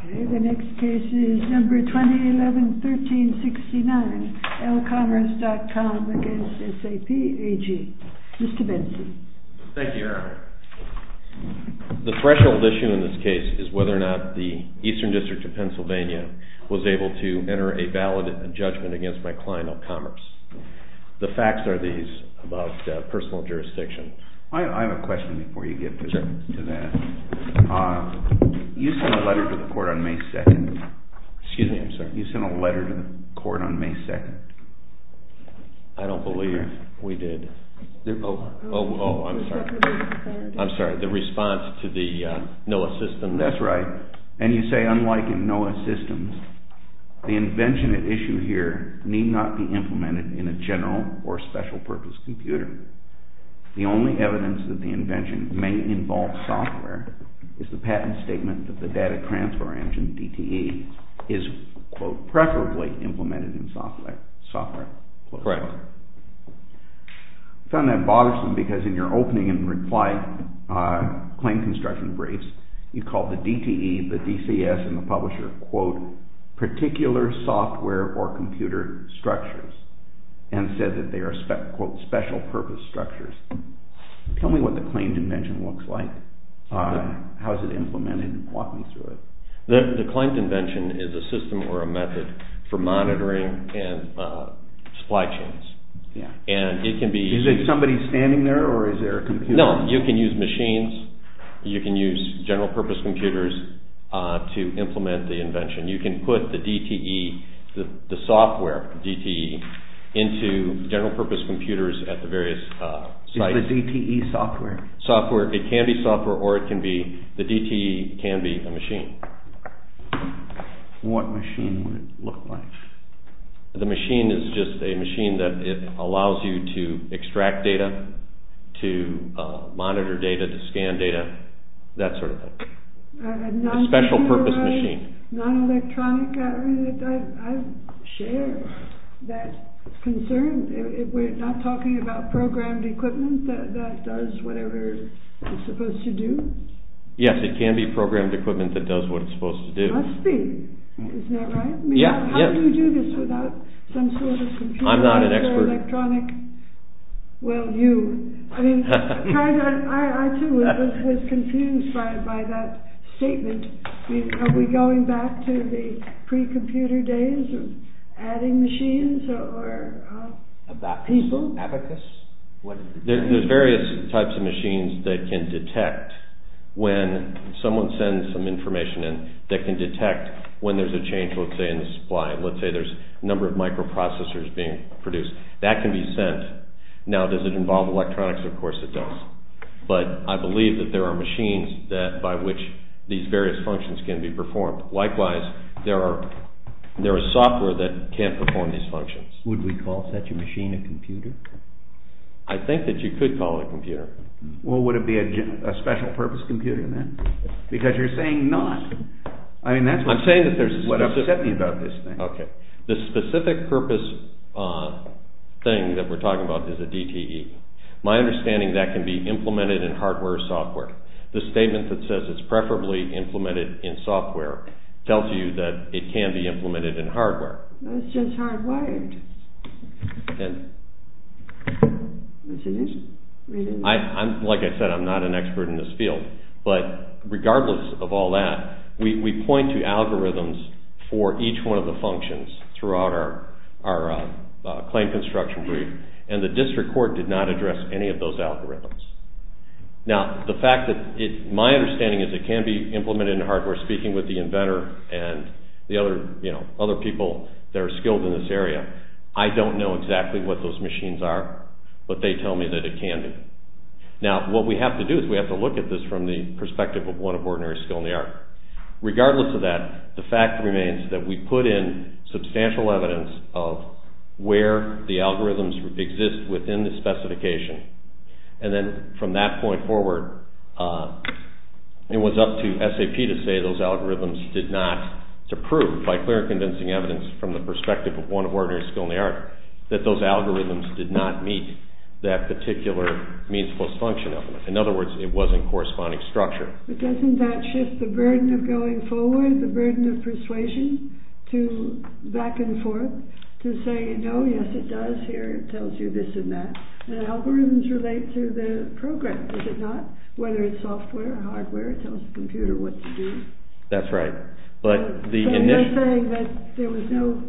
Okay, the next case is number 2011-1369, ELCOMMERCE.COM v. SAP AG. Mr. Benzie. Thank you, Erin. The threshold issue in this case is whether or not the Eastern District of Pennsylvania was able to enter a valid judgment against my client, ELCOMMERCE. The facts are these about personal jurisdiction. I have a question before you get to that. You sent a letter to the court on May 2nd. Excuse me, I'm sorry. You sent a letter to the court on May 2nd. I don't believe we did. Oh, I'm sorry. I'm sorry, the response to the NOAA system. That's right. And you say, unlike in NOAA systems, the invention at issue here need not be implemented in a general or special-purpose computer. The only evidence that the invention may involve software is the patent statement that the data transfer engine, DTE, is, quote, preferably implemented in software. Correct. I found that bothersome because in your opening and reply claim construction briefs, you called the DTE, the DCS, and the publisher, quote, particular software or computer structures and said that they are, quote, special-purpose structures. Tell me what the claimed invention looks like. How is it implemented? Walk me through it. The claimed invention is a system or a method for monitoring and supply chains. Is it somebody standing there or is there a computer? No, you can use machines. You can use general-purpose computers to implement the invention. You can put the DTE, the software DTE, into general-purpose computers at the various sites. Is the DTE software? It can be software or it can be, the DTE can be a machine. What machine would it look like? The machine is just a machine that allows you to extract data, to monitor data, to scan data, that sort of thing. A special-purpose machine. Non-electronic? I share that concern. We're not talking about programmed equipment that does whatever it's supposed to do? Yes, it can be programmed equipment that does what it's supposed to do. It must be. Isn't that right? How do you do this without some sort of computer? I'm not an expert. Well, you. I too was confused by that statement. Are we going back to the pre-computer days of adding machines? People? There's various types of machines that can detect when someone sends some information in, that can detect when there's a change, let's say, in the supply. Let's say there's a number of microprocessors being produced. That can be sent. Now, does it involve electronics? Of course it does. But I believe that there are machines by which these various functions can be performed. Likewise, there are software that can't perform these functions. Would we call such a machine a computer? I think that you could call it a computer. Well, would it be a special-purpose computer then? Because you're saying not. I'm saying that there's a specific... That's what upset me about this thing. The specific-purpose thing that we're talking about is a DTE. My understanding is that can be implemented in hardware or software. The statement that says it's preferably implemented in software tells you that it can be implemented in hardware. It's just hardwired. Like I said, I'm not an expert in this field. But regardless of all that, we point to algorithms for each one of the functions throughout our claim construction brief, and the district court did not address any of those algorithms. Now, the fact that my understanding is it can be implemented in hardware, speaking with the inventor and the other people that are skilled in this area, I don't know exactly what those machines are, but they tell me that it can be. Now, what we have to do is we have to look at this from the perspective of one of ordinary skill in the art. Regardless of that, the fact remains that we put in substantial evidence of where the algorithms exist within the specification, and then from that point forward, it was up to SAP to say those algorithms did not, to prove by clear and convincing evidence from the perspective of one of ordinary skill in the art, that those algorithms did not meet that particular means plus function element. In other words, it wasn't corresponding structure. But doesn't that shift the burden of going forward, the burden of persuasion to back and forth, to say, no, yes, it does. Here, it tells you this and that. And algorithms relate to the program, does it not? Whether it's software or hardware, it tells the computer what to do. That's right. So you're saying that there was no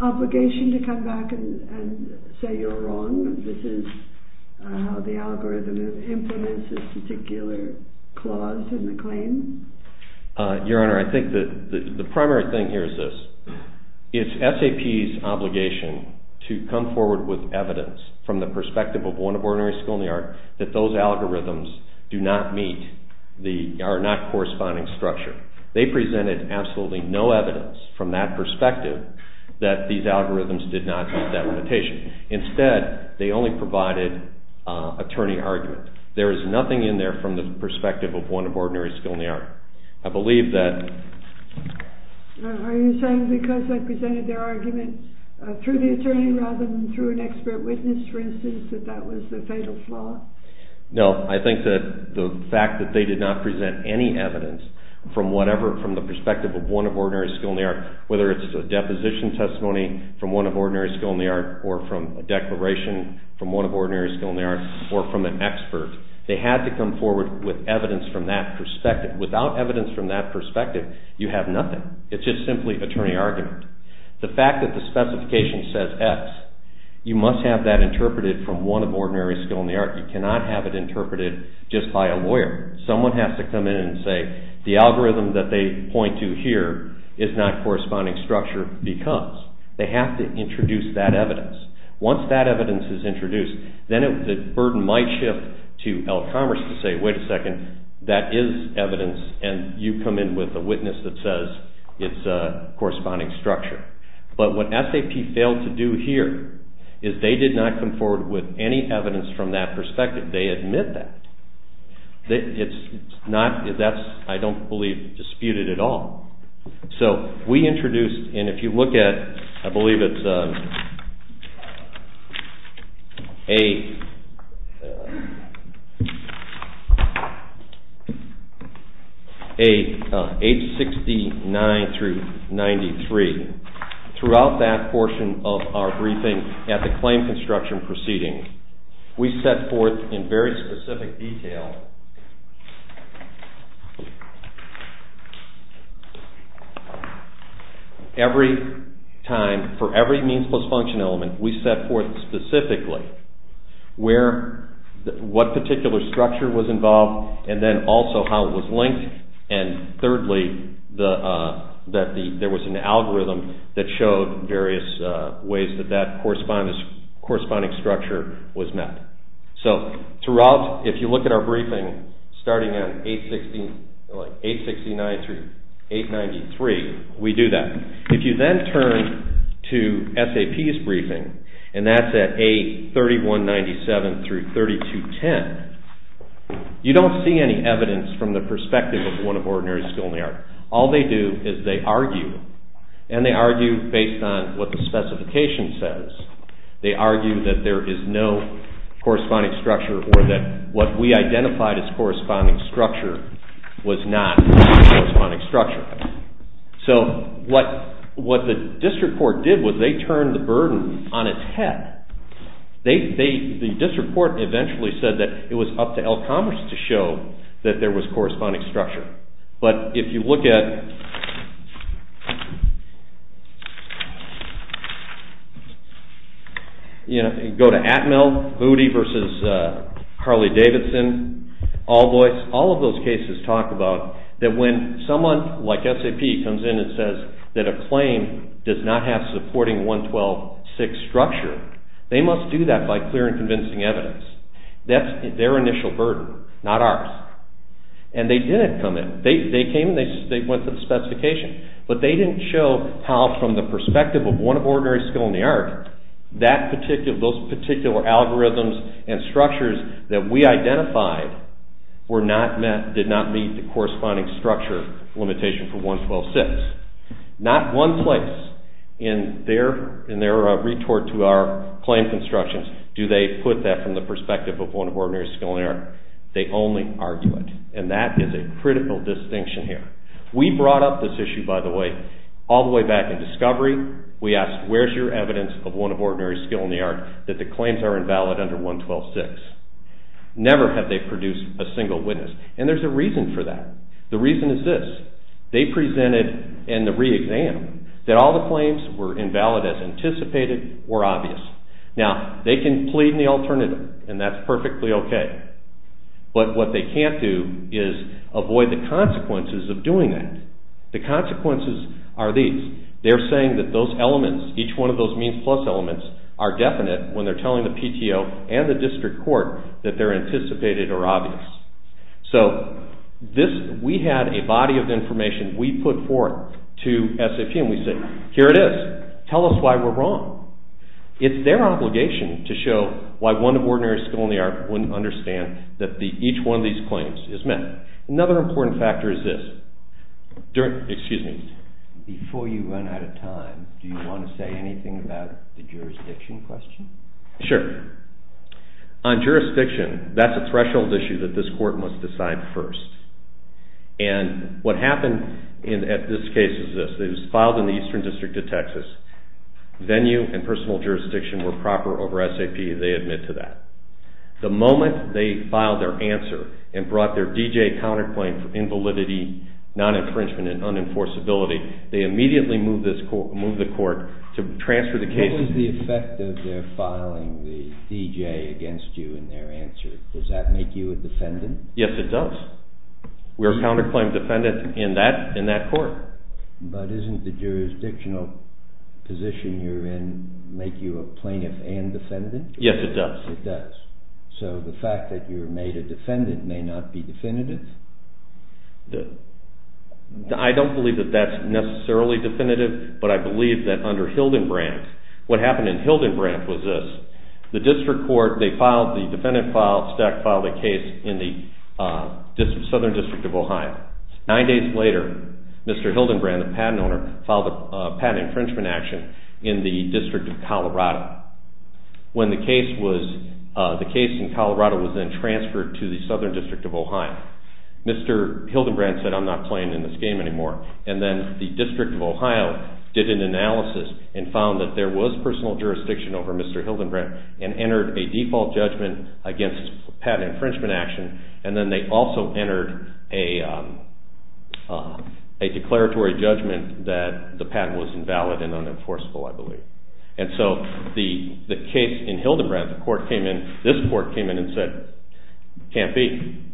obligation to come back and say you're wrong, this is how the algorithm implements this particular clause in the claim? Your Honor, I think the primary thing here is this. It's SAP's obligation to come forward with evidence from the perspective of one of ordinary skill in the art, that those algorithms do not meet, are not corresponding structure. They presented absolutely no evidence from that perspective that these algorithms did not meet that limitation. Instead, they only provided attorney argument. There is nothing in there from the perspective of one of ordinary skill in the art. I believe that... Are you saying because they presented their argument through the attorney rather than through an expert witness, for instance, that that was the fatal flaw? No, I think that the fact that they did not present any evidence from the perspective of one of ordinary skill in the art, whether it's a deposition testimony from one of ordinary skill in the art, or from a declaration from one of ordinary skill in the art, or from an expert, they had to come forward with evidence from that perspective. Without evidence from that perspective, you have nothing. It's just simply attorney argument. The fact that the specification says X, you must have that interpreted from one of ordinary skill in the art. You cannot have it interpreted just by a lawyer. Someone has to come in and say, the algorithm that they point to here is not corresponding structure because... They have to introduce that evidence. Once that evidence is introduced, then the burden might shift to El Commerce to say, wait a second, that is evidence, and you come in with a witness that says it's a corresponding structure. But what SAP failed to do here is they did not come forward with any evidence from that perspective. They admit that. That's, I don't believe, disputed at all. So we introduced, and if you look at, I believe it's a... Throughout that portion of our briefing at the claim construction proceeding, we set forth in very specific detail... Every time, for every means plus function element, we set forth specifically what particular structure was involved and then also how it was linked and thirdly, that there was an algorithm that showed various ways that that corresponding structure was met. So throughout, if you look at our briefing, starting at 869 through 893, we do that. If you then turn to SAP's briefing, and that's at A3197 through 3210, you don't see any evidence from the perspective of one of ordinary skill in the art. All they do is they argue, and they argue based on what the specification says. They argue that there is no corresponding structure or that what we identified as corresponding structure was not a corresponding structure. So what the district court did was they turned the burden on its head. The district court eventually said that it was up to Elk Commerce to show that there was corresponding structure. But if you look at... Go to Atmel, Moody v. Harley-Davidson, Allboys, all of those cases talk about that when someone like SAP comes in and says that a claim does not have supporting 112.6 structure, they must do that by clear and convincing evidence. That's their initial burden, not ours. And they didn't come in. They came and they went through the specification. But they didn't show how from the perspective of one of ordinary skill in the art, those particular algorithms and structures that we identified did not meet the corresponding structure limitation for 112.6. Not one place in their retort to our claim constructions do they put that from the perspective of one of ordinary skill in the art. They only argue it. And that is a critical distinction here. We brought up this issue, by the way, all the way back in discovery. We asked where's your evidence of one of ordinary skill in the art that the claims are invalid under 112.6. Never have they produced a single witness. And there's a reason for that. The reason is this. They presented in the re-exam that all the claims were invalid as anticipated or obvious. Now, they can plead in the alternative. And that's perfectly okay. But what they can't do is avoid the consequences of doing that. The consequences are these. They're saying that those elements, each one of those means plus elements, are definite when they're telling the PTO and the district court that they're anticipated or obvious. So we had a body of information. We put forth to SAP. And we said, here it is. Tell us why we're wrong. It's their obligation to show why one of ordinary skill in the art wouldn't understand that each one of these claims is met. Another important factor is this. Excuse me. Before you run out of time, do you want to say anything about the jurisdiction question? Sure. On jurisdiction, that's a threshold issue And what happened in this case is this. It was filed in the Eastern District of Texas. Venue and personal jurisdiction were proper over SAP. They admit to that. The moment they filed their answer and brought their D.J. counterclaim for invalidity, non-infringement, and unenforceability, they immediately moved the court to transfer the case. What was the effect of their filing the D.J. against you in their answer? Does that make you a defendant? Yes, it does. We're a counterclaim defendant in that court. But isn't the jurisdictional position you're in make you a plaintiff and defendant? Yes, it does. It does. So the fact that you're made a defendant may not be definitive? I don't believe that that's necessarily definitive, but I believe that under Hildenbrandt, what happened in Hildenbrandt was this. The district court, the defendant stack filed a case in the Southern District of Ohio. Nine days later, Mr. Hildenbrandt, the patent owner, filed a patent infringement action in the District of Colorado. When the case in Colorado was then transferred to the Southern District of Ohio, Mr. Hildenbrandt said, I'm not playing in this game anymore. And then the District of Ohio did an analysis and found that there was personal jurisdiction over Mr. Hildenbrandt and entered a default judgment against patent infringement action. And then they also entered a declaratory judgment that the patent was invalid and unenforceable, I believe. And so the case in Hildenbrandt, the court came in, this court came in and said, can't be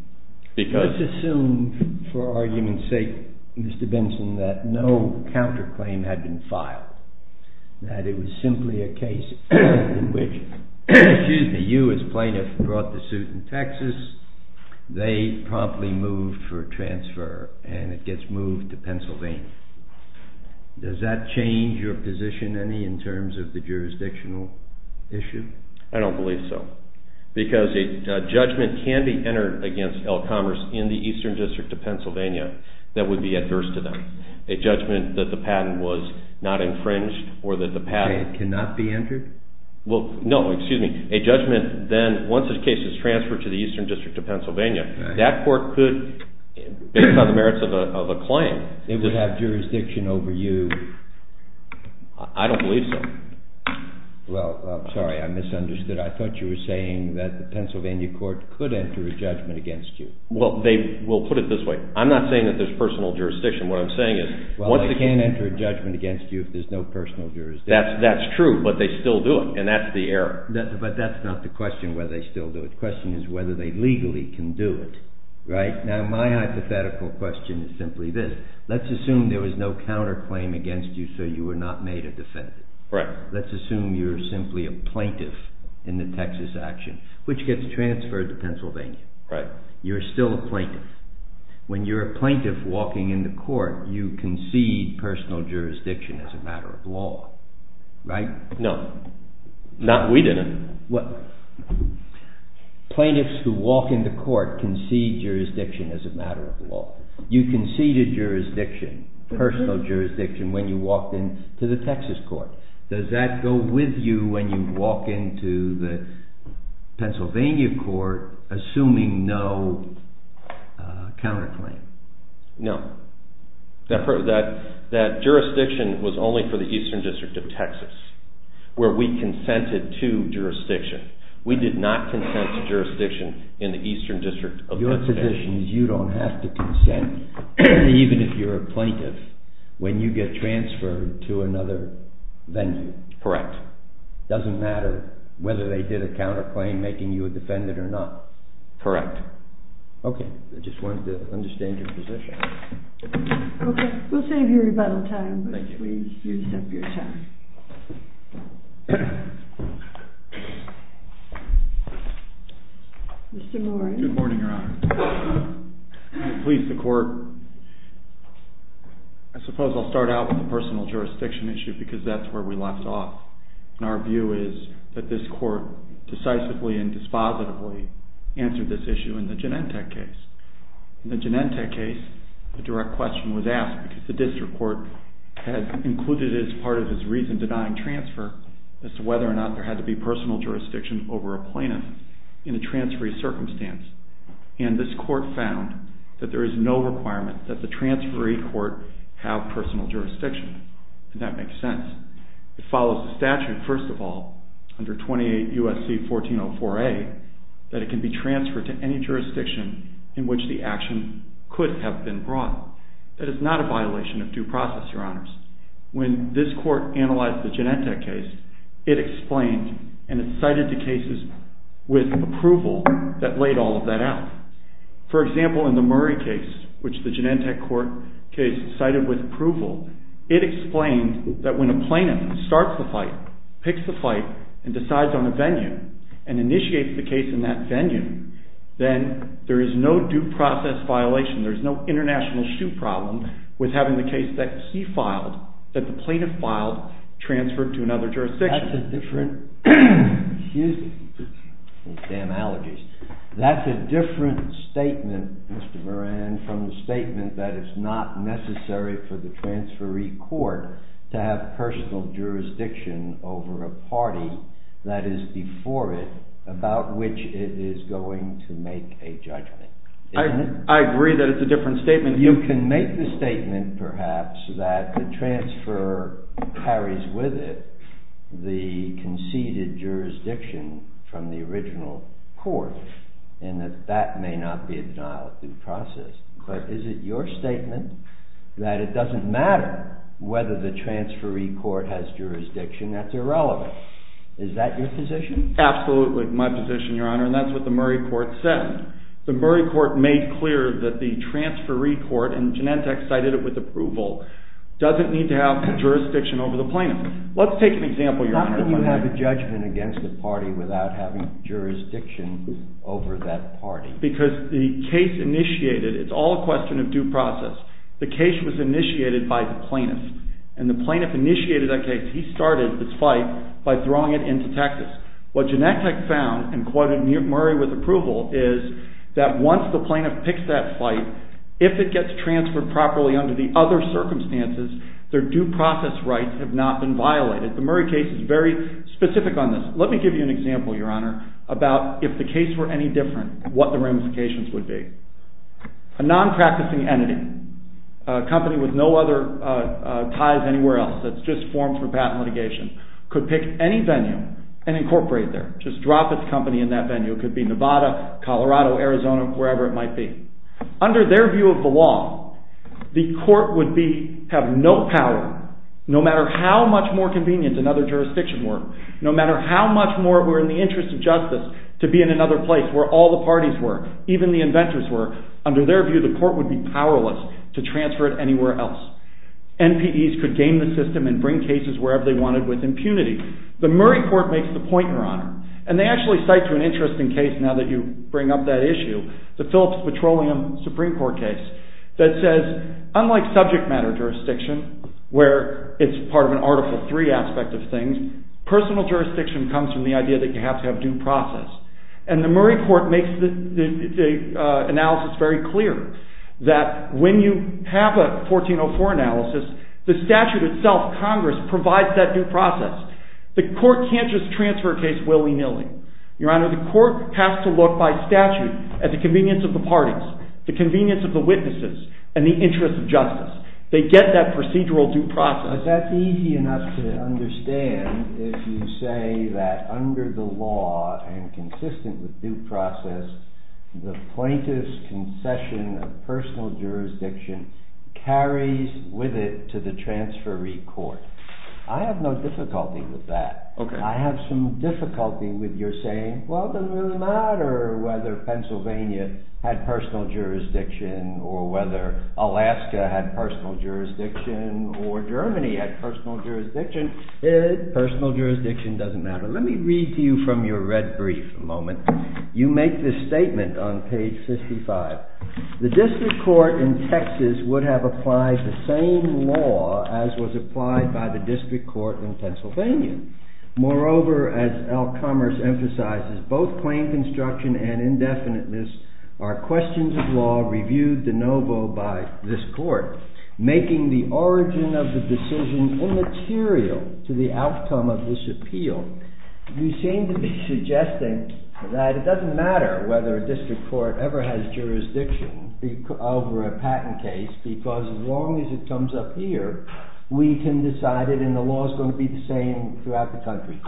because... Let's assume for argument's sake, Mr. Benson, that no counterclaim had been filed. That it was simply a case in which, excuse me, you as plaintiff brought the suit in Texas they promptly moved for transfer and it gets moved to Pennsylvania. Does that change your position any in terms of the jurisdictional issue? I don't believe so. Because a judgment can be entered against El Commerce in the Eastern District of Pennsylvania that would be adverse to them. A judgment that the patent was not infringed or that the patent... It cannot be entered? Well, no, excuse me. A judgment then, once the case is transferred to the Eastern District of Pennsylvania, that court could, based on the merits of a claim... It would have jurisdiction over you? I don't believe so. Well, sorry, I misunderstood. I thought you were saying that the Pennsylvania court could enter a judgment against you. Well, we'll put it this way. I'm not saying that there's personal jurisdiction. What I'm saying is... Well, they can't enter a judgment against you if there's no personal jurisdiction. That's true, but they still do it. And that's the error. But that's not the question, whether they still do it. The question is whether they legally can do it, right? Now, my hypothetical question is simply this. Let's assume there was no counterclaim against you so you were not made a defendant. Right. Let's assume you're simply a plaintiff in the Texas action, which gets transferred to Pennsylvania. Right. You're still a plaintiff. When you're a plaintiff walking in the court, you concede personal jurisdiction as a matter of law, right? No. No, we didn't. Plaintiffs who walk into court concede jurisdiction as a matter of law. You conceded jurisdiction, personal jurisdiction, when you walked into the Texas court. Does that go with you when you walk into the Pennsylvania court assuming no counterclaim? No. That jurisdiction was only for the Eastern District of Texas, where we consented to jurisdiction. We did not consent to jurisdiction in the Eastern District of Texas. Your position is you don't have to consent, even if you're a plaintiff, when you get transferred to another venue. Correct. It doesn't matter whether they did a counterclaim making you a defendant or not. Correct. Okay. I just wanted to understand your position. Okay. We'll save you rebuttal time. Thank you. Mr. Morris. Good morning, Your Honor. Please, the court. I suppose I'll start out with the personal jurisdiction issue because that's where we left off, and our view is that this court decisively and dispositively answered this issue in the Genentech case. In the Genentech case, the direct question was asked because the district court had not answered the question in the Genentech case. And included as part of this reason denying transfer as to whether or not there had to be personal jurisdiction over a plaintiff in a transferee circumstance. And this court found that there is no requirement that the transferee court have personal jurisdiction. Does that make sense? It follows the statute, first of all, under 28 U.S.C. 1404A, that it can be transferred to any jurisdiction in which the action could have been brought. That is not a violation of due process, Your Honors. When this court analyzed the Genentech case, it explained and it cited the cases with approval that laid all of that out. For example, in the Murray case, which the Genentech case cited with approval, it explained that when a plaintiff starts the fight, picks the fight, and decides on a venue and initiates the case in that venue, then there is no due process violation. There is no international shoe problem with having the case that he filed, that the plaintiff filed, transferred to another jurisdiction. That's a different... Excuse me. Damn allergies. That's a different statement, Mr. Moran, from the statement that it's not necessary for the transferee court to have personal jurisdiction over a party that is before it about which it is going to make a judgment. I agree that it's a different statement. You can make the statement, perhaps, that the transfer carries with it the conceded jurisdiction from the original court, and that that may not be a denial of due process. But is it your statement that it doesn't matter whether the transferee court has jurisdiction? That's irrelevant. Is that your position? Absolutely, my position, Your Honor. And that's what the Murray court said. The Murray court made clear that the transferee court, and Genentech cited it with approval, doesn't need to have jurisdiction over the plaintiff. Let's take an example, Your Honor. How can you have a judgment against a party without having jurisdiction over that party? Because the case initiated, it's all a question of due process. The case was initiated by the plaintiff, and the plaintiff initiated that case. He started this fight by throwing it into Texas. What Genentech found, and quoted Murray with approval, is that once the plaintiff picks that fight, if it gets transferred properly under the other circumstances, their due process rights have not been violated. The Murray case is very specific on this. Let me give you an example, Your Honor, about if the case were any different, what the ramifications would be. A non-practicing entity, a company with no other ties anywhere else, that's just formed for patent litigation, could pick any venue and incorporate there, just drop its company in that venue. It could be Nevada, Colorado, Arizona, wherever it might be. Under their view of the law, the court would have no power, no matter how much more convenient another jurisdiction were, no matter how much more it were in the interest of justice to be in another place where all the parties were, even the inventors were. Under their view, the court would be powerless to transfer it anywhere else. NPDs could game the system and bring cases wherever they wanted with impunity. The Murray court makes the point, Your Honor, and they actually cite to an interesting case, now that you bring up that issue, the Phillips Petroleum Supreme Court case, that says, unlike subject matter jurisdiction, where it's part of an Article 3 aspect of things, personal jurisdiction comes from the idea that you have to have due process. And the Murray court makes the analysis very clear that when you have a 1404 analysis, the statute itself, Congress, provides that due process. The court can't just transfer a case willy-nilly. Your Honor, the court has to look by statute at the convenience of the parties, the convenience of the witnesses, and the interest of justice. They get that procedural due process. But that's easy enough to understand if you say that under the law and consistent with due process, the plaintiff's concession of personal jurisdiction carries with it to the transferee court. I have no difficulty with that. I have some difficulty with your saying, well, it doesn't really matter whether Pennsylvania had personal jurisdiction or whether Alaska had personal jurisdiction or Germany had personal jurisdiction. Personal jurisdiction doesn't matter. Let me read to you from your red brief a moment. You make this statement on page 55. The district court in Texas would have applied the same law as was applied by the district court in Pennsylvania. Moreover, as Elk Commerce emphasizes, both plain construction and indefiniteness are questions of law reviewed de novo by this court, making the origin of the decision immaterial to the outcome of this appeal. You seem to be suggesting that it doesn't matter whether a district court ever has jurisdiction over a patent case because as long as it comes up here, we can decide it and the law is going to be the same throughout the country.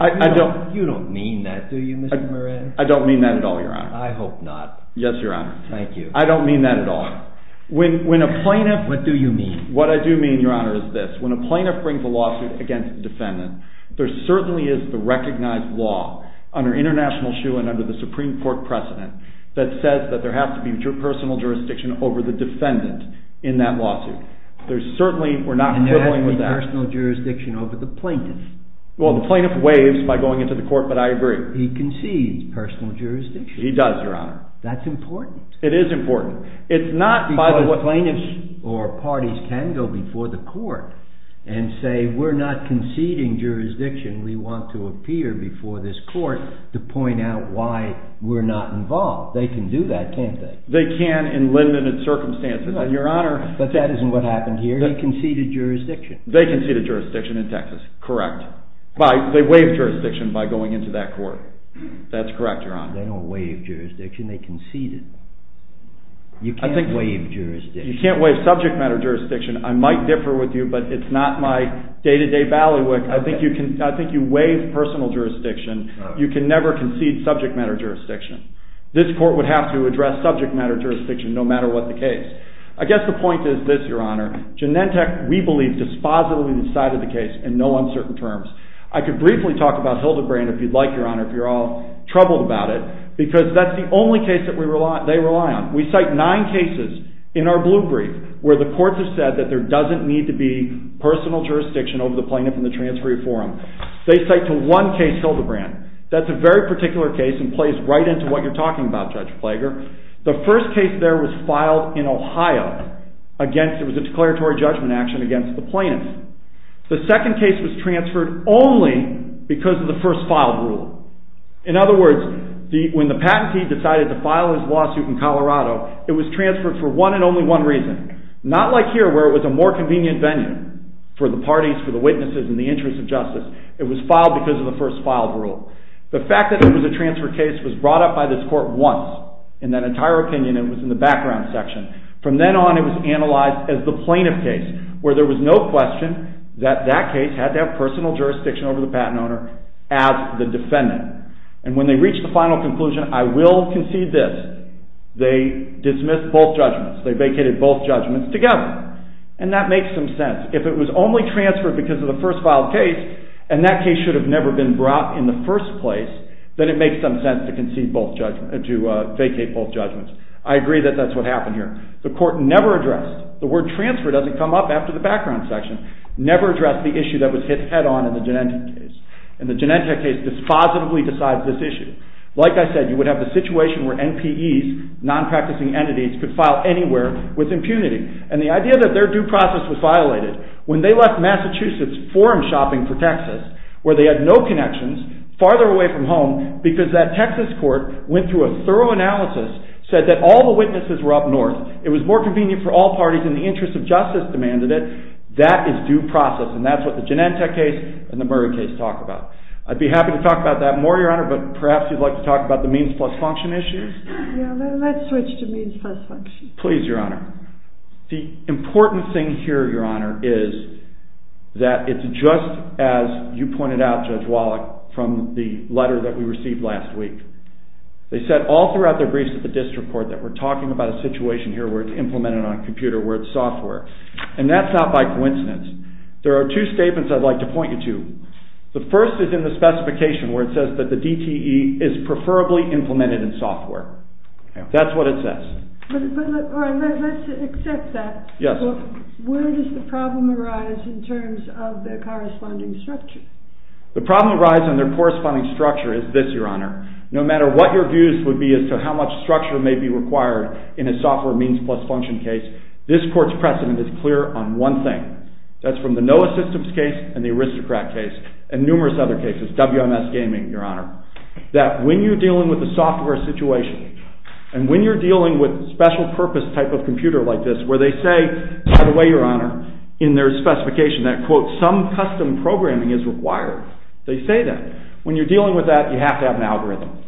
You don't mean that, do you, Mr. Moran? I don't mean that at all, Your Honor. I hope not. Yes, Your Honor. Thank you. I don't mean that at all. What do you mean? What I do mean, Your Honor, is this. When a plaintiff brings a lawsuit against a defendant, there certainly is the recognized law under international shoe and under the Supreme Court precedent that says that there has to be personal jurisdiction over the defendant in that lawsuit. There's certainly... And there has to be personal jurisdiction over the plaintiff. Well, the plaintiff waives by going into the court, but I agree. He concedes personal jurisdiction. He does, Your Honor. That's important. It is important. It's not by the way... Because plaintiffs or parties can go before the court and say we're not conceding jurisdiction, we want to appear before this court to point out why we're not involved. They can do that, can't they? They can in limited circumstances. But that isn't what happened here. They conceded jurisdiction. They conceded jurisdiction in Texas. Correct. They waived jurisdiction by going into that court. That's correct, Your Honor. They don't waive jurisdiction. They conceded. You can't waive jurisdiction. You can't waive subject matter jurisdiction. I might differ with you, but it's not my day-to-day Ballywick. I think you waive personal jurisdiction. You can never concede subject matter jurisdiction. This court would have to address subject matter jurisdiction no matter what the case. I guess the point is this, Your Honor. Genentech, we believe, dispositively decided the case in no uncertain terms. I could briefly talk about Hildebrand, if you'd like, Your Honor, if you're all troubled about it, because that's the only case that they rely on. We cite nine cases in our blue brief where the courts have said that there doesn't need to be personal jurisdiction over the plaintiff in the transferee forum. They cite to one case Hildebrand. That's a very particular case and plays right into what you're talking about, Judge Plager. The first case there was filed in Ohio. It was a declaratory judgment action against the plaintiff. The second case was transferred only because of the first filed rule. In other words, when the patentee decided to file his lawsuit in Colorado, it was transferred for one and only one reason. Not like here where it was a more convenient venue for the parties, for the witnesses, and the interests of justice. It was filed because of the first filed rule. The fact that it was a transfer case was brought up by this court once. In that entire opinion, it was in the background section. From then on, it was analyzed as the plaintiff case where there was no question that that case had to have personal jurisdiction over the patent owner as the defendant. And when they reached the final conclusion, I will concede this, they dismissed both judgments. They vacated both judgments together. And that makes some sense. If it was only transferred because of the first filed case, and that case should have never been brought in the first place, then it makes some sense to vacate both judgments. I agree that that's what happened here. The court never addressed, the word transfer doesn't come up after the background section, never addressed the issue that was hit head on in the Genentech case. And the Genentech case dispositively decides this issue. Like I said, you would have the situation where NPEs, non-practicing entities, could file anywhere with impunity. And the idea that their due process was violated, when they left Massachusetts forum shopping for Texas, where they had no connections, farther away from home, because that Texas court went through a thorough analysis, said that all the witnesses were up north, it was more convenient for all parties, and the interest of justice demanded it, that is due process, and that's what the Genentech case and the Murray case talk about. I'd be happy to talk about that more, Your Honor, but perhaps you'd like to talk about the means plus function issues? Yeah, let's switch to means plus function. Please, Your Honor. The important thing here, Your Honor, is that it's just as you pointed out, Judge Wallach, from the letter that we received last week. They said all throughout their briefs at the district court that we're talking about a situation here where it's implemented on a computer, where it's software. And that's not by coincidence. There are two statements I'd like to point you to. The first is in the specification, where it says that the DTE is preferably implemented in software. That's what it says. But let's accept that. Yes. Where does the problem arise in terms of their corresponding structure? The problem that arises in their corresponding structure is this, Your Honor. No matter what your views would be as to how much structure may be required in a software means plus function case, this court's precedent is clear on one thing. That's from the NOAA Systems case and the Aristocrat case, and numerous other cases, WMS Gaming, Your Honor, that when you're dealing with a software situation, and when you're dealing with a special-purpose type of computer like this, where they say, by the way, Your Honor, in their specification that, quote, some custom programming is required. They say that. When you're dealing with that, you have to have an algorithm.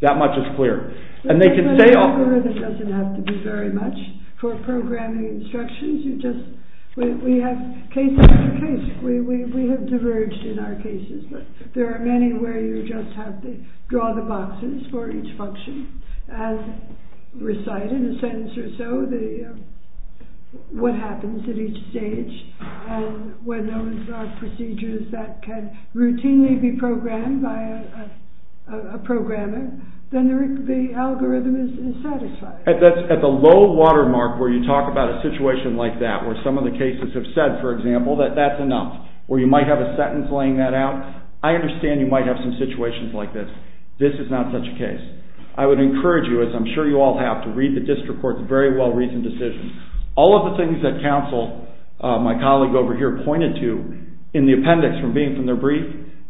That much is clear. But an algorithm doesn't have to be very much. For programming instructions, you just... We have case after case. We have diverged in our cases. But there are many where you just have to fill boxes for each function and recite in a sentence or so what happens at each stage. And when those are procedures that can routinely be programmed by a programmer, then the algorithm is satisfied. At the low watermark where you talk about a situation like that, where some of the cases have said, for example, that that's enough, where you might have a sentence laying that out, I understand you might have some situations like this. This is not such a case. I would encourage you, as I'm sure you all have, to read the district court's very well-reasoned decision. All of the things that counsel, my colleague over here, pointed to in the appendix from being from their brief,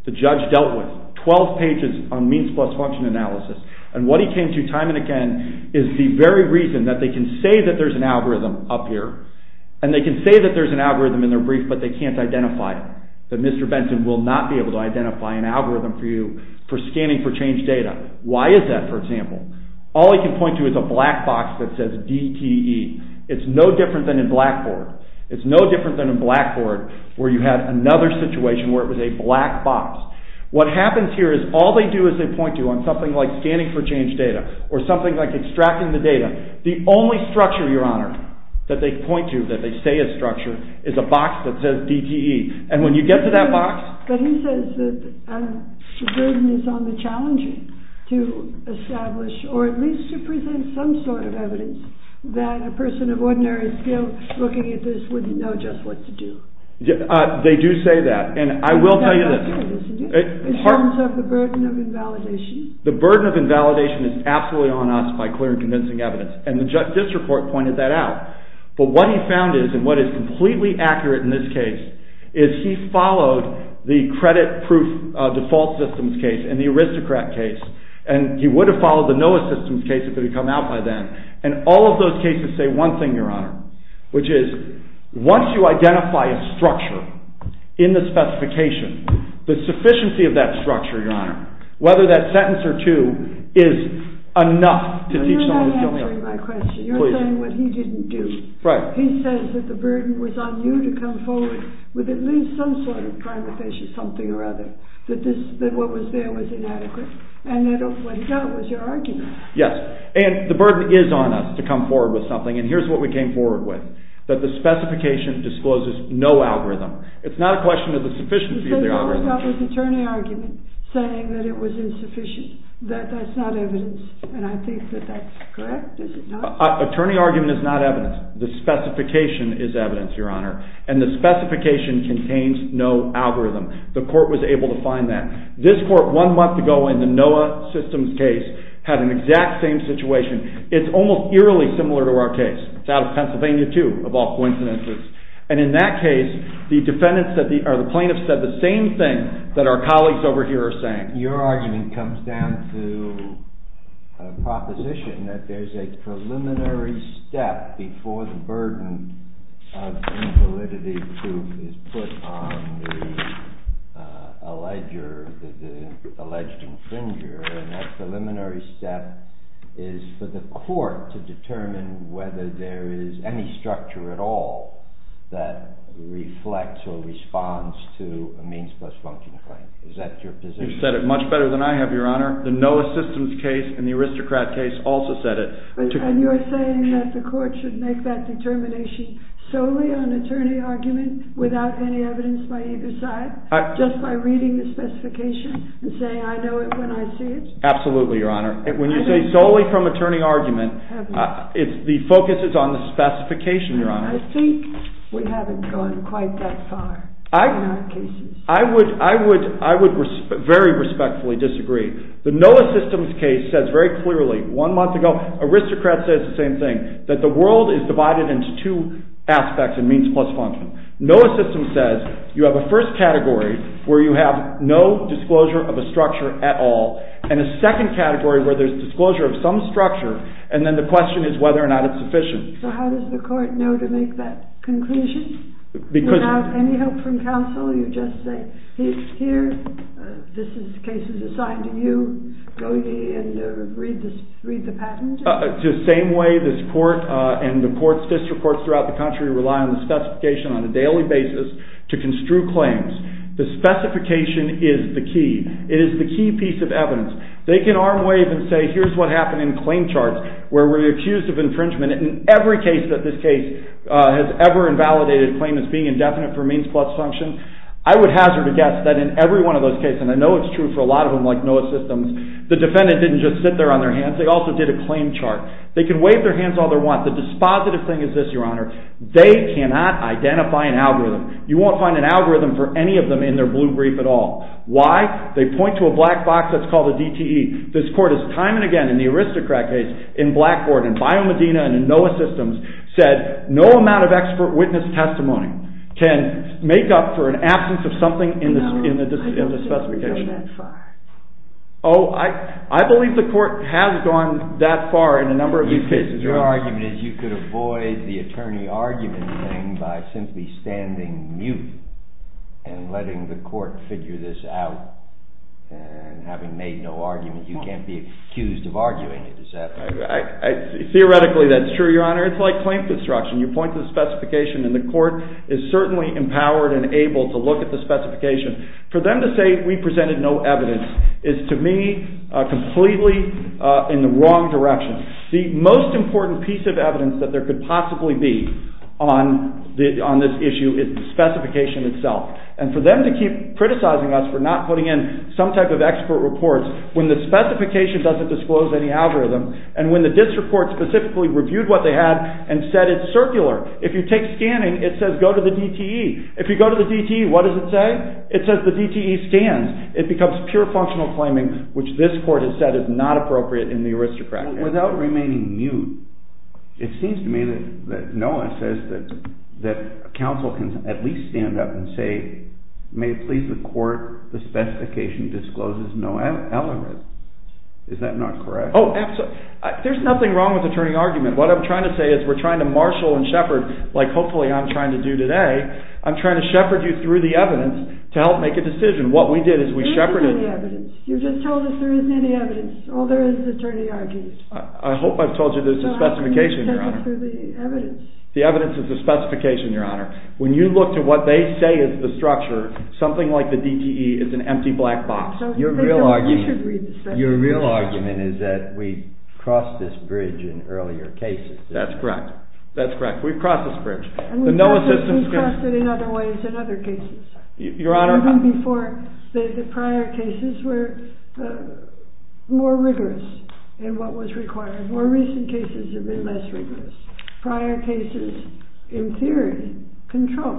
the judge dealt with. Twelve pages on means-plus-function analysis. And what he came to time and again is the very reason that they can say that there's an algorithm up here, and they can say that there's an algorithm in their brief, but they can't identify it, that Mr. Benson will not be able to identify an algorithm for you for scanning for changed data. Why is that, for example? All he can point to is a black box that says DTE. It's no different than in Blackboard. It's no different than in Blackboard, where you had another situation where it was a black box. What happens here is all they do is they point to, on something like scanning for changed data, or something like extracting the data, the only structure, Your Honor, that they point to, that they say is structure, is a box that says DTE. And when you get to that box... But he says that the burden is on the challenger to establish, or at least to present some sort of evidence that a person of ordinary skill looking at this wouldn't know just what to do. They do say that, and I will tell you this. In terms of the burden of invalidation. The burden of invalidation is absolutely on us by clear and convincing evidence. And this report pointed that out. But what he found is, and what is completely accurate in this case, is he followed the credit proof default systems case and the aristocrat case, and he would have followed the NOAA systems case if it had come out by then. And all of those cases say one thing, Your Honor, which is once you identify a structure in the specification, the sufficiency of that structure, Your Honor, whether that sentence or two is enough to teach someone a skill... You're not answering my question. You're saying what he didn't do. Right. He says that the burden was on you to come forward with at least some sort of primitive, something or other, that what was there was inadequate, and that what he got was your argument. Yes, and the burden is on us to come forward with something, and here's what we came forward with, that the specification discloses no algorithm. It's not a question of the sufficiency of the algorithm. Because all he got was an attorney argument that that's not evidence, and I think that that's correct, is it not? Attorney argument is not evidence. The specification is evidence, Your Honor, and the specification contains no algorithm. The court was able to find that. This court, one month ago, in the NOAA systems case, had an exact same situation. It's almost eerily similar to our case. It's out of Pennsylvania, too, of all coincidences. And in that case, the plaintiff said the same thing that our colleagues over here are saying. Your argument comes down to a proposition that there's a preliminary step before the burden of invalidity proof is put on the alleged infringer, and that preliminary step is for the court to determine whether there is any structure at all that reflects or responds to a means-plus-function claim. Is that your position? You've said it much better than I have, Your Honor. The NOAA systems case and the aristocrat case also said it. And you're saying that the court should make that determination solely on attorney argument without any evidence by either side, just by reading the specification and saying, I know it when I see it? Absolutely, Your Honor. When you say solely from attorney argument, the focus is on the specification, Your Honor. I think we haven't gone quite that far in our cases. I would very respectfully disagree. The NOAA systems case says very clearly, one month ago aristocrat says the same thing, that the world is divided into two aspects in means-plus-function. NOAA systems says you have a first category where you have no disclosure of a structure at all, and a second category where there's disclosure of some structure, and then the question is whether or not it's sufficient. So how does the court know to make that conclusion? Without any help from counsel, you just say, here, this is the case that's assigned to you, go ahead and read the patent? The same way this court and the courts, district courts throughout the country, rely on the specification on a daily basis to construe claims. The specification is the key. It is the key piece of evidence. They can arm wave and say, here's what happened in claim charts, where we're accused of infringement in every case that this case has ever invalidated a claim as being indefinite for means-plus-function. I would hazard a guess that in every one of those cases, and I know it's true for a lot of them like NOAA systems, the defendant didn't just sit there on their hands, they also did a claim chart. They can wave their hands all they want. The dispositive thing is this, Your Honor, they cannot identify an algorithm. You won't find an algorithm for any of them in their blue brief at all. Why? They point to a black box that's called a DTE. This court has time and again in the aristocrat case, in Blackboard, in Biomedina, and in NOAA systems, said no amount of expert witness testimony can make up for an absence of something in the specification. No, I don't think they've gone that far. Oh, I believe the court has gone that far in a number of these cases. Your argument is you could avoid the attorney argument thing by simply standing mute and letting the court figure this out, and having made no argument, you can't be accused of arguing it. Is that right? Theoretically, that's true, Your Honor. It's like claim construction. You point to the specification, and the court is certainly empowered and able to look at the specification. For them to say we presented no evidence is, to me, completely in the wrong direction. The most important piece of evidence that there could possibly be on this issue is the specification itself. And for them to keep criticizing us for not putting in some type of expert report when the specification doesn't disclose any algorithm, and when the district court specifically reviewed what they had and said it's circular. If you take scanning, it says go to the DTE. If you go to the DTE, what does it say? It says the DTE stands. It becomes pure functional claiming, which this court has said is not appropriate in the aristocratic case. Without remaining mute, it seems to me that Noah says that counsel can at least stand up and say, may it please the court, the specification discloses no algorithm. Is that not correct? Oh, absolutely. There's nothing wrong with attorney argument. What I'm trying to say is we're trying to marshal and shepherd, like hopefully I'm trying to do today. I'm trying to shepherd you through the evidence to help make a decision. What we did is we shepherded... There isn't any evidence. You just told us there isn't any evidence. All there is is attorney argument. I hope I've told you there's a specification, Your Honor. No, I didn't tell you there's the evidence. The evidence is the specification, Your Honor. When you look to what they say is the structure, something like the DTE is an empty black box. Your real argument is that we've crossed this bridge in earlier cases. That's correct. That's correct. We've crossed this bridge. And we've crossed it in other ways in other cases. Your Honor... Even before the prior cases were more rigorous in what was required. More recent cases have been less rigorous. Prior cases, in theory, control.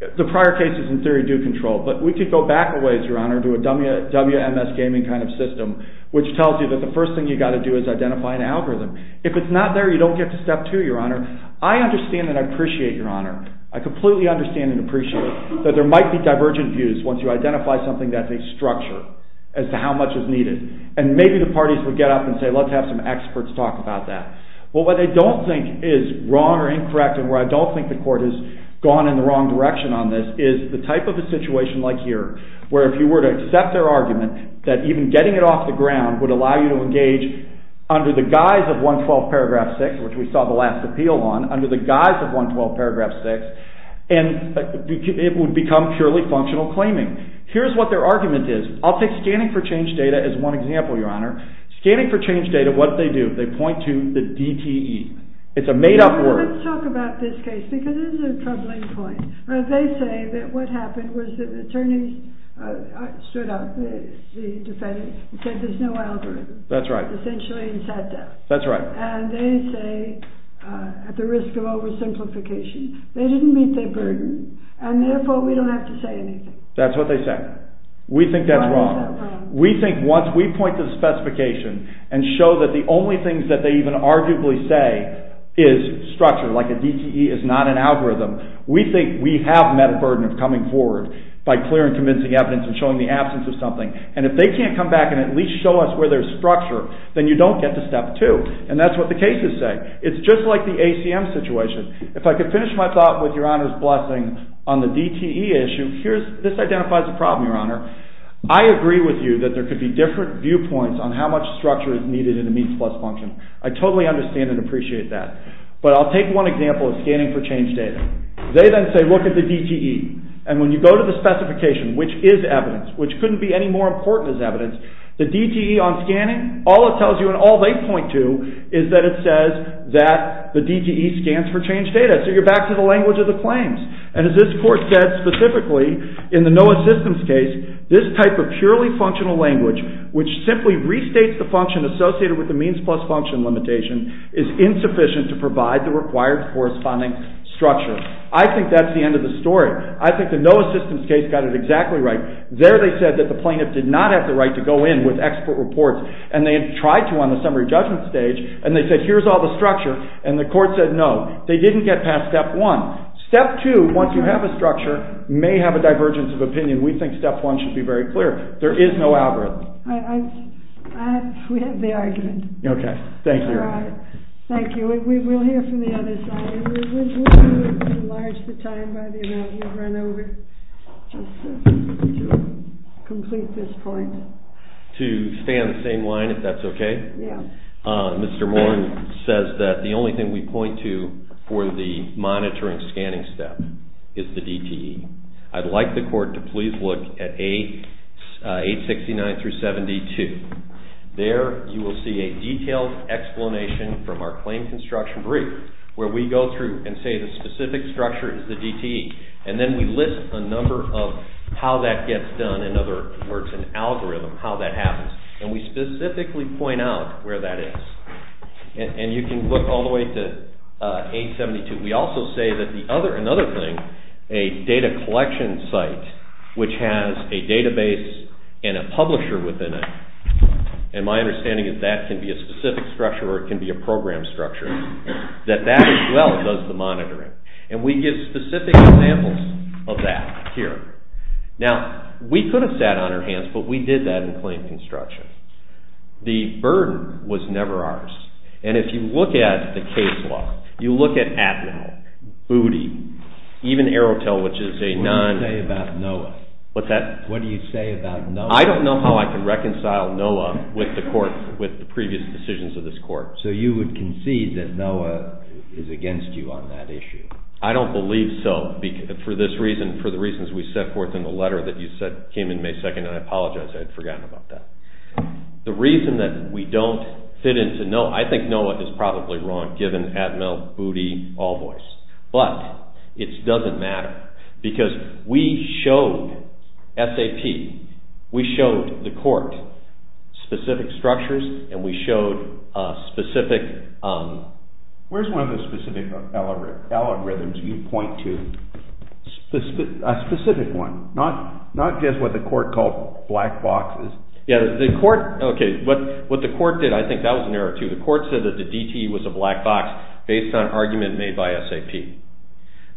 The prior cases, in theory, do control. But we could go back a ways, Your Honor, to a WMS gaming kind of system, which tells you that the first thing you've got to do is identify an algorithm. If it's not there, you don't get to step two, Your Honor. I understand and I appreciate, Your Honor, I completely understand and appreciate that there might be divergent views once you identify something that's a structure as to how much is needed. And maybe the parties would get up and say, let's have some experts talk about that. But what I don't think is wrong or incorrect and where I don't think the court has gone in the wrong direction on this is the type of a situation like here, where if you were to accept their argument, that even getting it off the ground would allow you to engage under the guise of 112 paragraph 6, which we saw the last appeal on, under the guise of 112 paragraph 6, and it would become purely functional claiming. Here's what their argument is. I'll take scanning for change data as one example, Your Honor. Scanning for change data, what do they do? They point to the DTE. It's a made-up word. Let's talk about this case because this is a troubling point. They say that what happened was that the attorneys stood up, the defendants, and said there's no algorithm. That's right. Essentially in sad death. That's right. And they say, at the risk of oversimplification, they didn't meet their burden, and therefore we don't have to say anything. That's what they say. We think that's wrong. We think once we point to the specification and show that the only things that they even arguably say is structure, like a DTE is not an algorithm, we think we have met a burden of coming forward by clear and convincing evidence and showing the absence of something. And if they can't come back and at least show us where there's structure, then you don't get to step two. And that's what the cases say. It's just like the ACM situation. If I could finish my thought with Your Honor's blessing on the DTE issue, this identifies a problem, Your Honor. I agree with you that there could be different viewpoints on how much structure is needed in a means plus function. I totally understand and appreciate that. But I'll take one example of scanning for change data. They then say look at the DTE. And when you go to the specification, which is evidence, which couldn't be any more important as evidence, the DTE on scanning, all it tells you and all they point to is that it says that the DTE scans for change data. So you're back to the language of the claims. And as this court said specifically in the NOAA systems case, this type of purely functional language, which simply restates the function associated with the means plus function limitation, is insufficient to provide the required corresponding structure. I think that's the end of the story. I think the NOAA systems case got it exactly right. There they said that the plaintiff did not have the right to go in with expert reports. And they tried to on the summary judgment stage. And they said here's all the structure. And the court said no. They didn't get past step one. Step two, once you have a structure, may have a divergence of opinion. We think step one should be very clear. There is no algorithm. We have the argument. Okay. Thank you. All right. Thank you. We will hear from the other side. We will enlarge the time by the amount you've run over just to complete this point. To stay on the same line, if that's okay? Yeah. Mr. Moore says that the only thing we point to for the monitoring scanning step is the DTE. I'd like the court to please look at 869-72. There you will see a detailed explanation from our claim construction brief where we go through and say the specific structure is the DTE. And then we list a number of how that gets done in other words an algorithm, how that happens. And we specifically point out where that is. And you can look all the way to 872. We also say that another thing, a data collection site, which has a database and a publisher within it, and my understanding is that can be a specific structure or it can be a program structure, that that as well does the monitoring. And we give specific examples of that here. Now, we could have sat on our hands, but we did that in claim construction. The burden was never ours. And if you look at the case law, you look at Atman, Booty, even AeroTel, which is a non- What's that? What do you say about NOAA? I don't know how I can reconcile NOAA with the court, with the previous decisions of this court. So you would concede that NOAA is against you on that issue? I don't believe so. For this reason, for the reasons we set forth in the letter that you said came in May 2nd, and I apologize, I had forgotten about that. The reason that we don't fit into NOAA, I think NOAA is probably wrong given Atman, Booty, All Voice. But, it doesn't matter. Because we showed SAP, we showed the court specific structures, and we showed specific Where's one of the specific algorithms you point to? A specific one. Not just what the court called black boxes. Yeah, the court, okay, what the court did, I think that was an error too. The court said that the DTE was a black box based on argument made by SAP.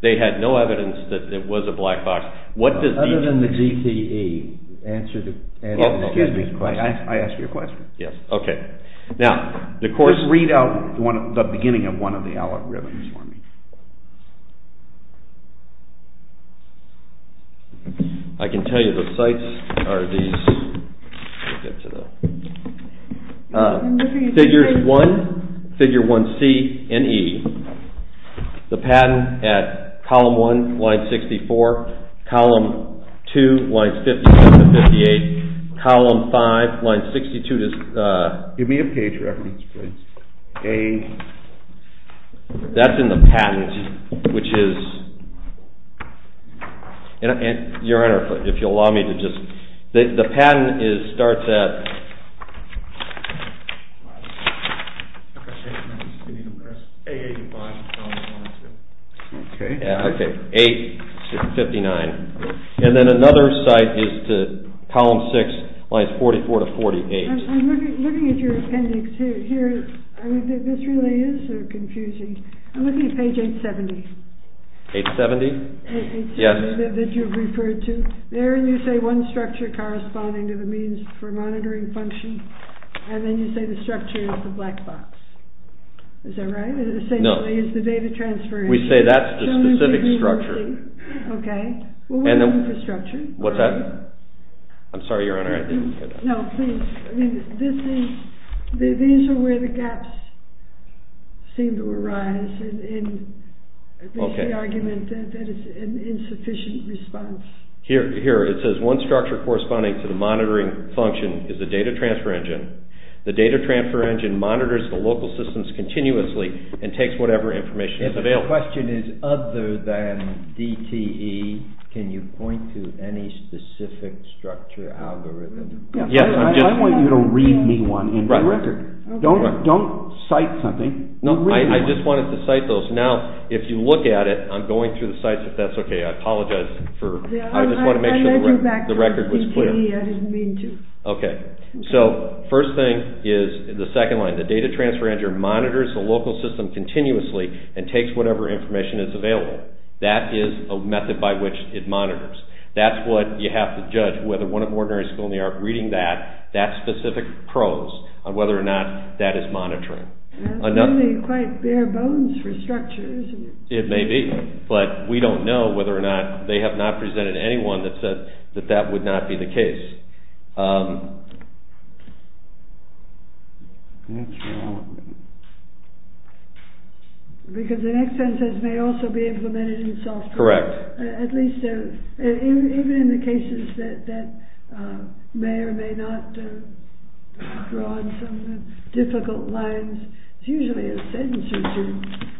They had no evidence that it was a black box. Other than the DTE, answer the question. Excuse me, Clay, I asked you a question. Yes, okay. Now, the court Just read out the beginning of one of the algorithms for me. I can tell you the sites are these Figures 1, Figure 1C, and E. The patent at Column 1, Line 64, Column 2, Line 57-58, Column 5, Line 62 Give me a page reference, please. That's in the patent, which is Your Honor, if you'll allow me to just The patent starts at 8-59 And then another site is to Column 6, Lines 44-48 I'm looking at your appendix here. This really is so confusing. I'm looking at page 870. 870? Yes. That you've referred to. There you say one structure corresponding to the means for monitoring function. And then you say the structure is the black box. Is that right? No. Essentially, it's the data transfer. We say that's the specific structure. Okay. Well, what infrastructure? What's that? I'm sorry, Your Honor, I didn't get that. No, please. I mean, these are where the gaps seem to arise in the argument That is an insufficient response. Here, it says one structure corresponding to the monitoring function is the data transfer engine. The data transfer engine monitors the local systems continuously and takes whatever information is available. If the question is other than DTE, can you point to any specific structure algorithm? I want you to read me one in the record. Don't cite something. No, I just wanted to cite those. Now, if you look at it, I'm going through the sites if that's okay. I apologize. I just want to make sure the record was clear. I didn't mean to. Okay. So, first thing is the second line. The data transfer engine monitors the local system continuously and takes whatever information is available. That is a method by which it monitors. That's what you have to judge whether one of the ordinary school in New York reading that, that specific prose on whether or not that is monitoring. That's really quite bare bones for structure, isn't it? It may be, but we don't know whether or not they have not presented anyone that said that that would not be the case. Because the next sentence says may also be implemented in software. Correct. Even in the cases that may or may not draw on some difficult lines, it's usually a sentence or two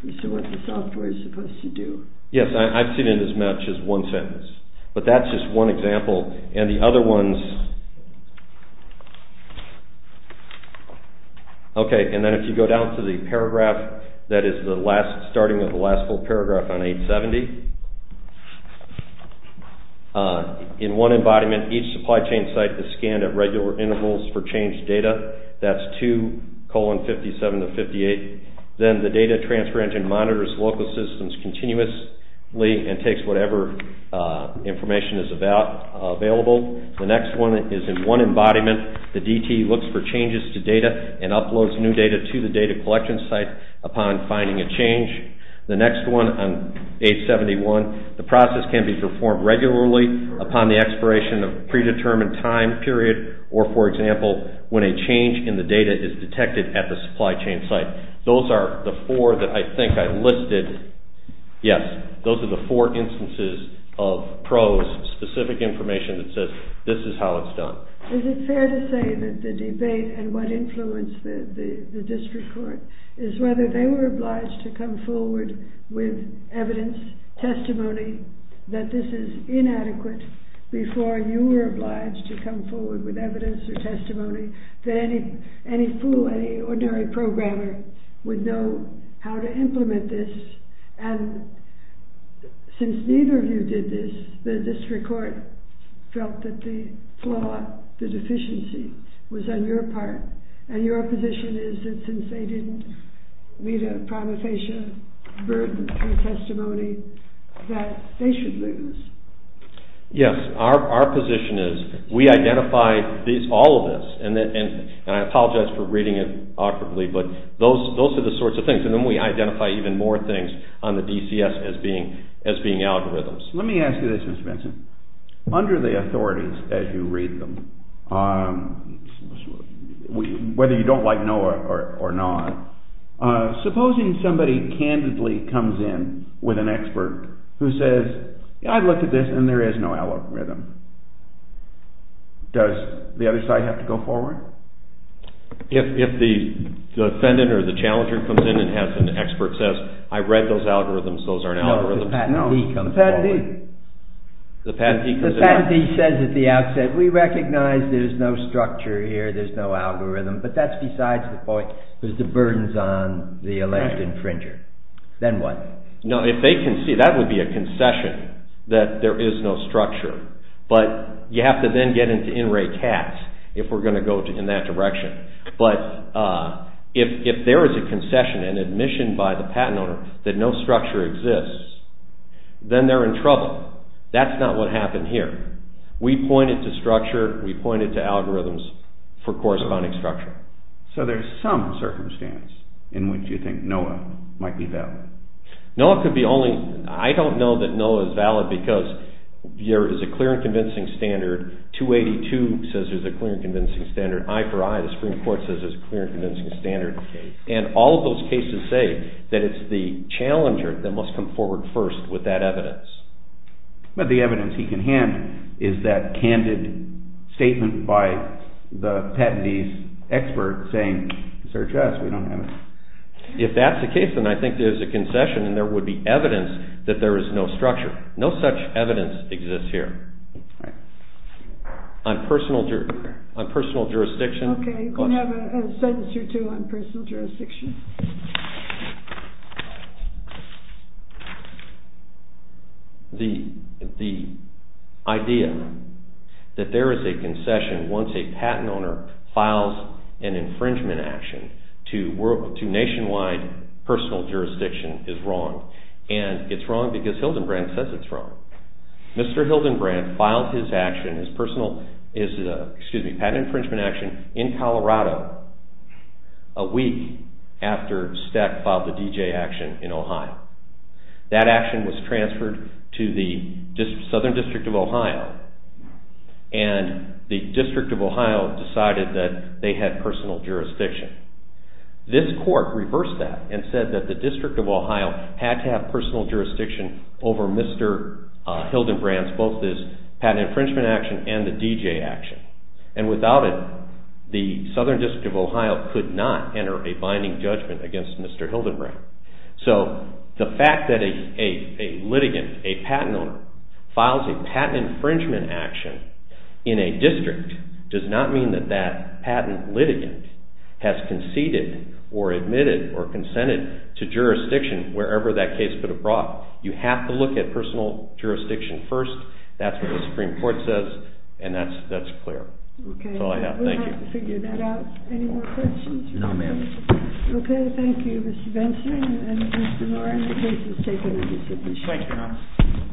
as to what the software is supposed to do. Yes, I've seen it as much as one sentence. But that's just one example. And the other ones... Okay. And then if you go down to the paragraph that is the last starting of the last full paragraph on 870. In one embodiment, each supply chain site is scanned at regular intervals for changed data. That's 2 colon 57 to 58. Then the data transfer engine monitors local systems continuously and takes whatever information is available. The next one is in one embodiment. The DTE looks for changes to data and uploads new data to the data collection site upon finding a change. The next one on 871. The process can be performed regularly upon the expiration of a predetermined time period or, for example, when a change in the data is detected at the supply chain site. Those are the four that I think I listed. Yes, those are the four instances of PRO's specific information that says this is how it's done. Is it fair to say that the debate and what influenced the district court is whether they were obliged to come forward with evidence, testimony, that this is inadequate before you were obliged to come forward with evidence or testimony that any fool, any ordinary programmer would know how to implement this? And since neither of you did this, the district court felt that the flaw, the deficiency, was on your part. And your position is that since they didn't meet a prima facie burden through testimony, that they should lose. Yes, our position is we identify all of this, and I apologize for reading it awkwardly, but those are the sorts of things, and then we identify even more things on the DCS as being algorithms. Let me ask you this, Mr. Benson. Under the authorities, as you read them, whether you don't like NOAA or not, supposing somebody candidly comes in with an expert who says, I looked at this and there is no algorithm. Does the other side have to go forward? If the defendant or the challenger comes in and has an expert who says, I read those algorithms, those aren't algorithms. No, if the patentee comes forward. No, the patentee. The patentee comes in. The patentee says at the outset, we recognize there's no structure here, there's no algorithm, but that's besides the point, there's the burdens on the elected infringer. Then what? No, if they can see, that would be a concession, that there is no structure. But you have to then get into in-rate tax if we're going to go in that direction. But if there is a concession, an admission by the patent owner that no structure exists, then they're in trouble. That's not what happened here. We pointed to structure, we pointed to algorithms for corresponding structure. So there's some circumstance in which you think NOAA might be valid. No, it could be only, I don't know that NOAA is valid because there is a clear and convincing standard. 282 says there's a clear and convincing standard. I for I, the Supreme Court says there's a clear and convincing standard. And all of those cases say that it's the challenger that must come forward first with that evidence. But the evidence he can hand is that candid statement by the patentee's expert saying, search us, we don't have it. If that's the case, then I think there's a concession and there would be evidence that there is no structure. No such evidence exists here. On personal jurisdiction. Okay, you can have a sentence or two on personal jurisdiction. The idea that there is a concession once a patent owner files an infringement action to nationwide personal jurisdiction is wrong. And it's wrong because Hildenbrandt says it's wrong. Mr. Hildenbrandt filed his action, his personal, excuse me, patent infringement action in Colorado a week after Stack filed the D.J. action in Ohio. That action was transferred to the Southern District of Ohio and the District of Ohio decided that they had personal jurisdiction. This court reversed that and said that the District of Ohio had to have personal jurisdiction over Mr. Hildenbrandt's both his patent infringement action and the D.J. action. And without it, the Southern District of Ohio could not enter a binding judgment against Mr. Hildenbrandt. So the fact that a litigant, a patent owner, files a patent infringement action in a district does not mean that that patent litigant has conceded or admitted or consented to jurisdiction wherever that case could have brought. You have to look at personal jurisdiction first. That's what the Supreme Court says and that's clear. Okay. That's all I have. Thank you. We'll have to figure that out. Any more questions? No, ma'am. Okay, thank you, Mr. Benson. And Mr. Moore, I'm going to take this. Thank you, Your Honor.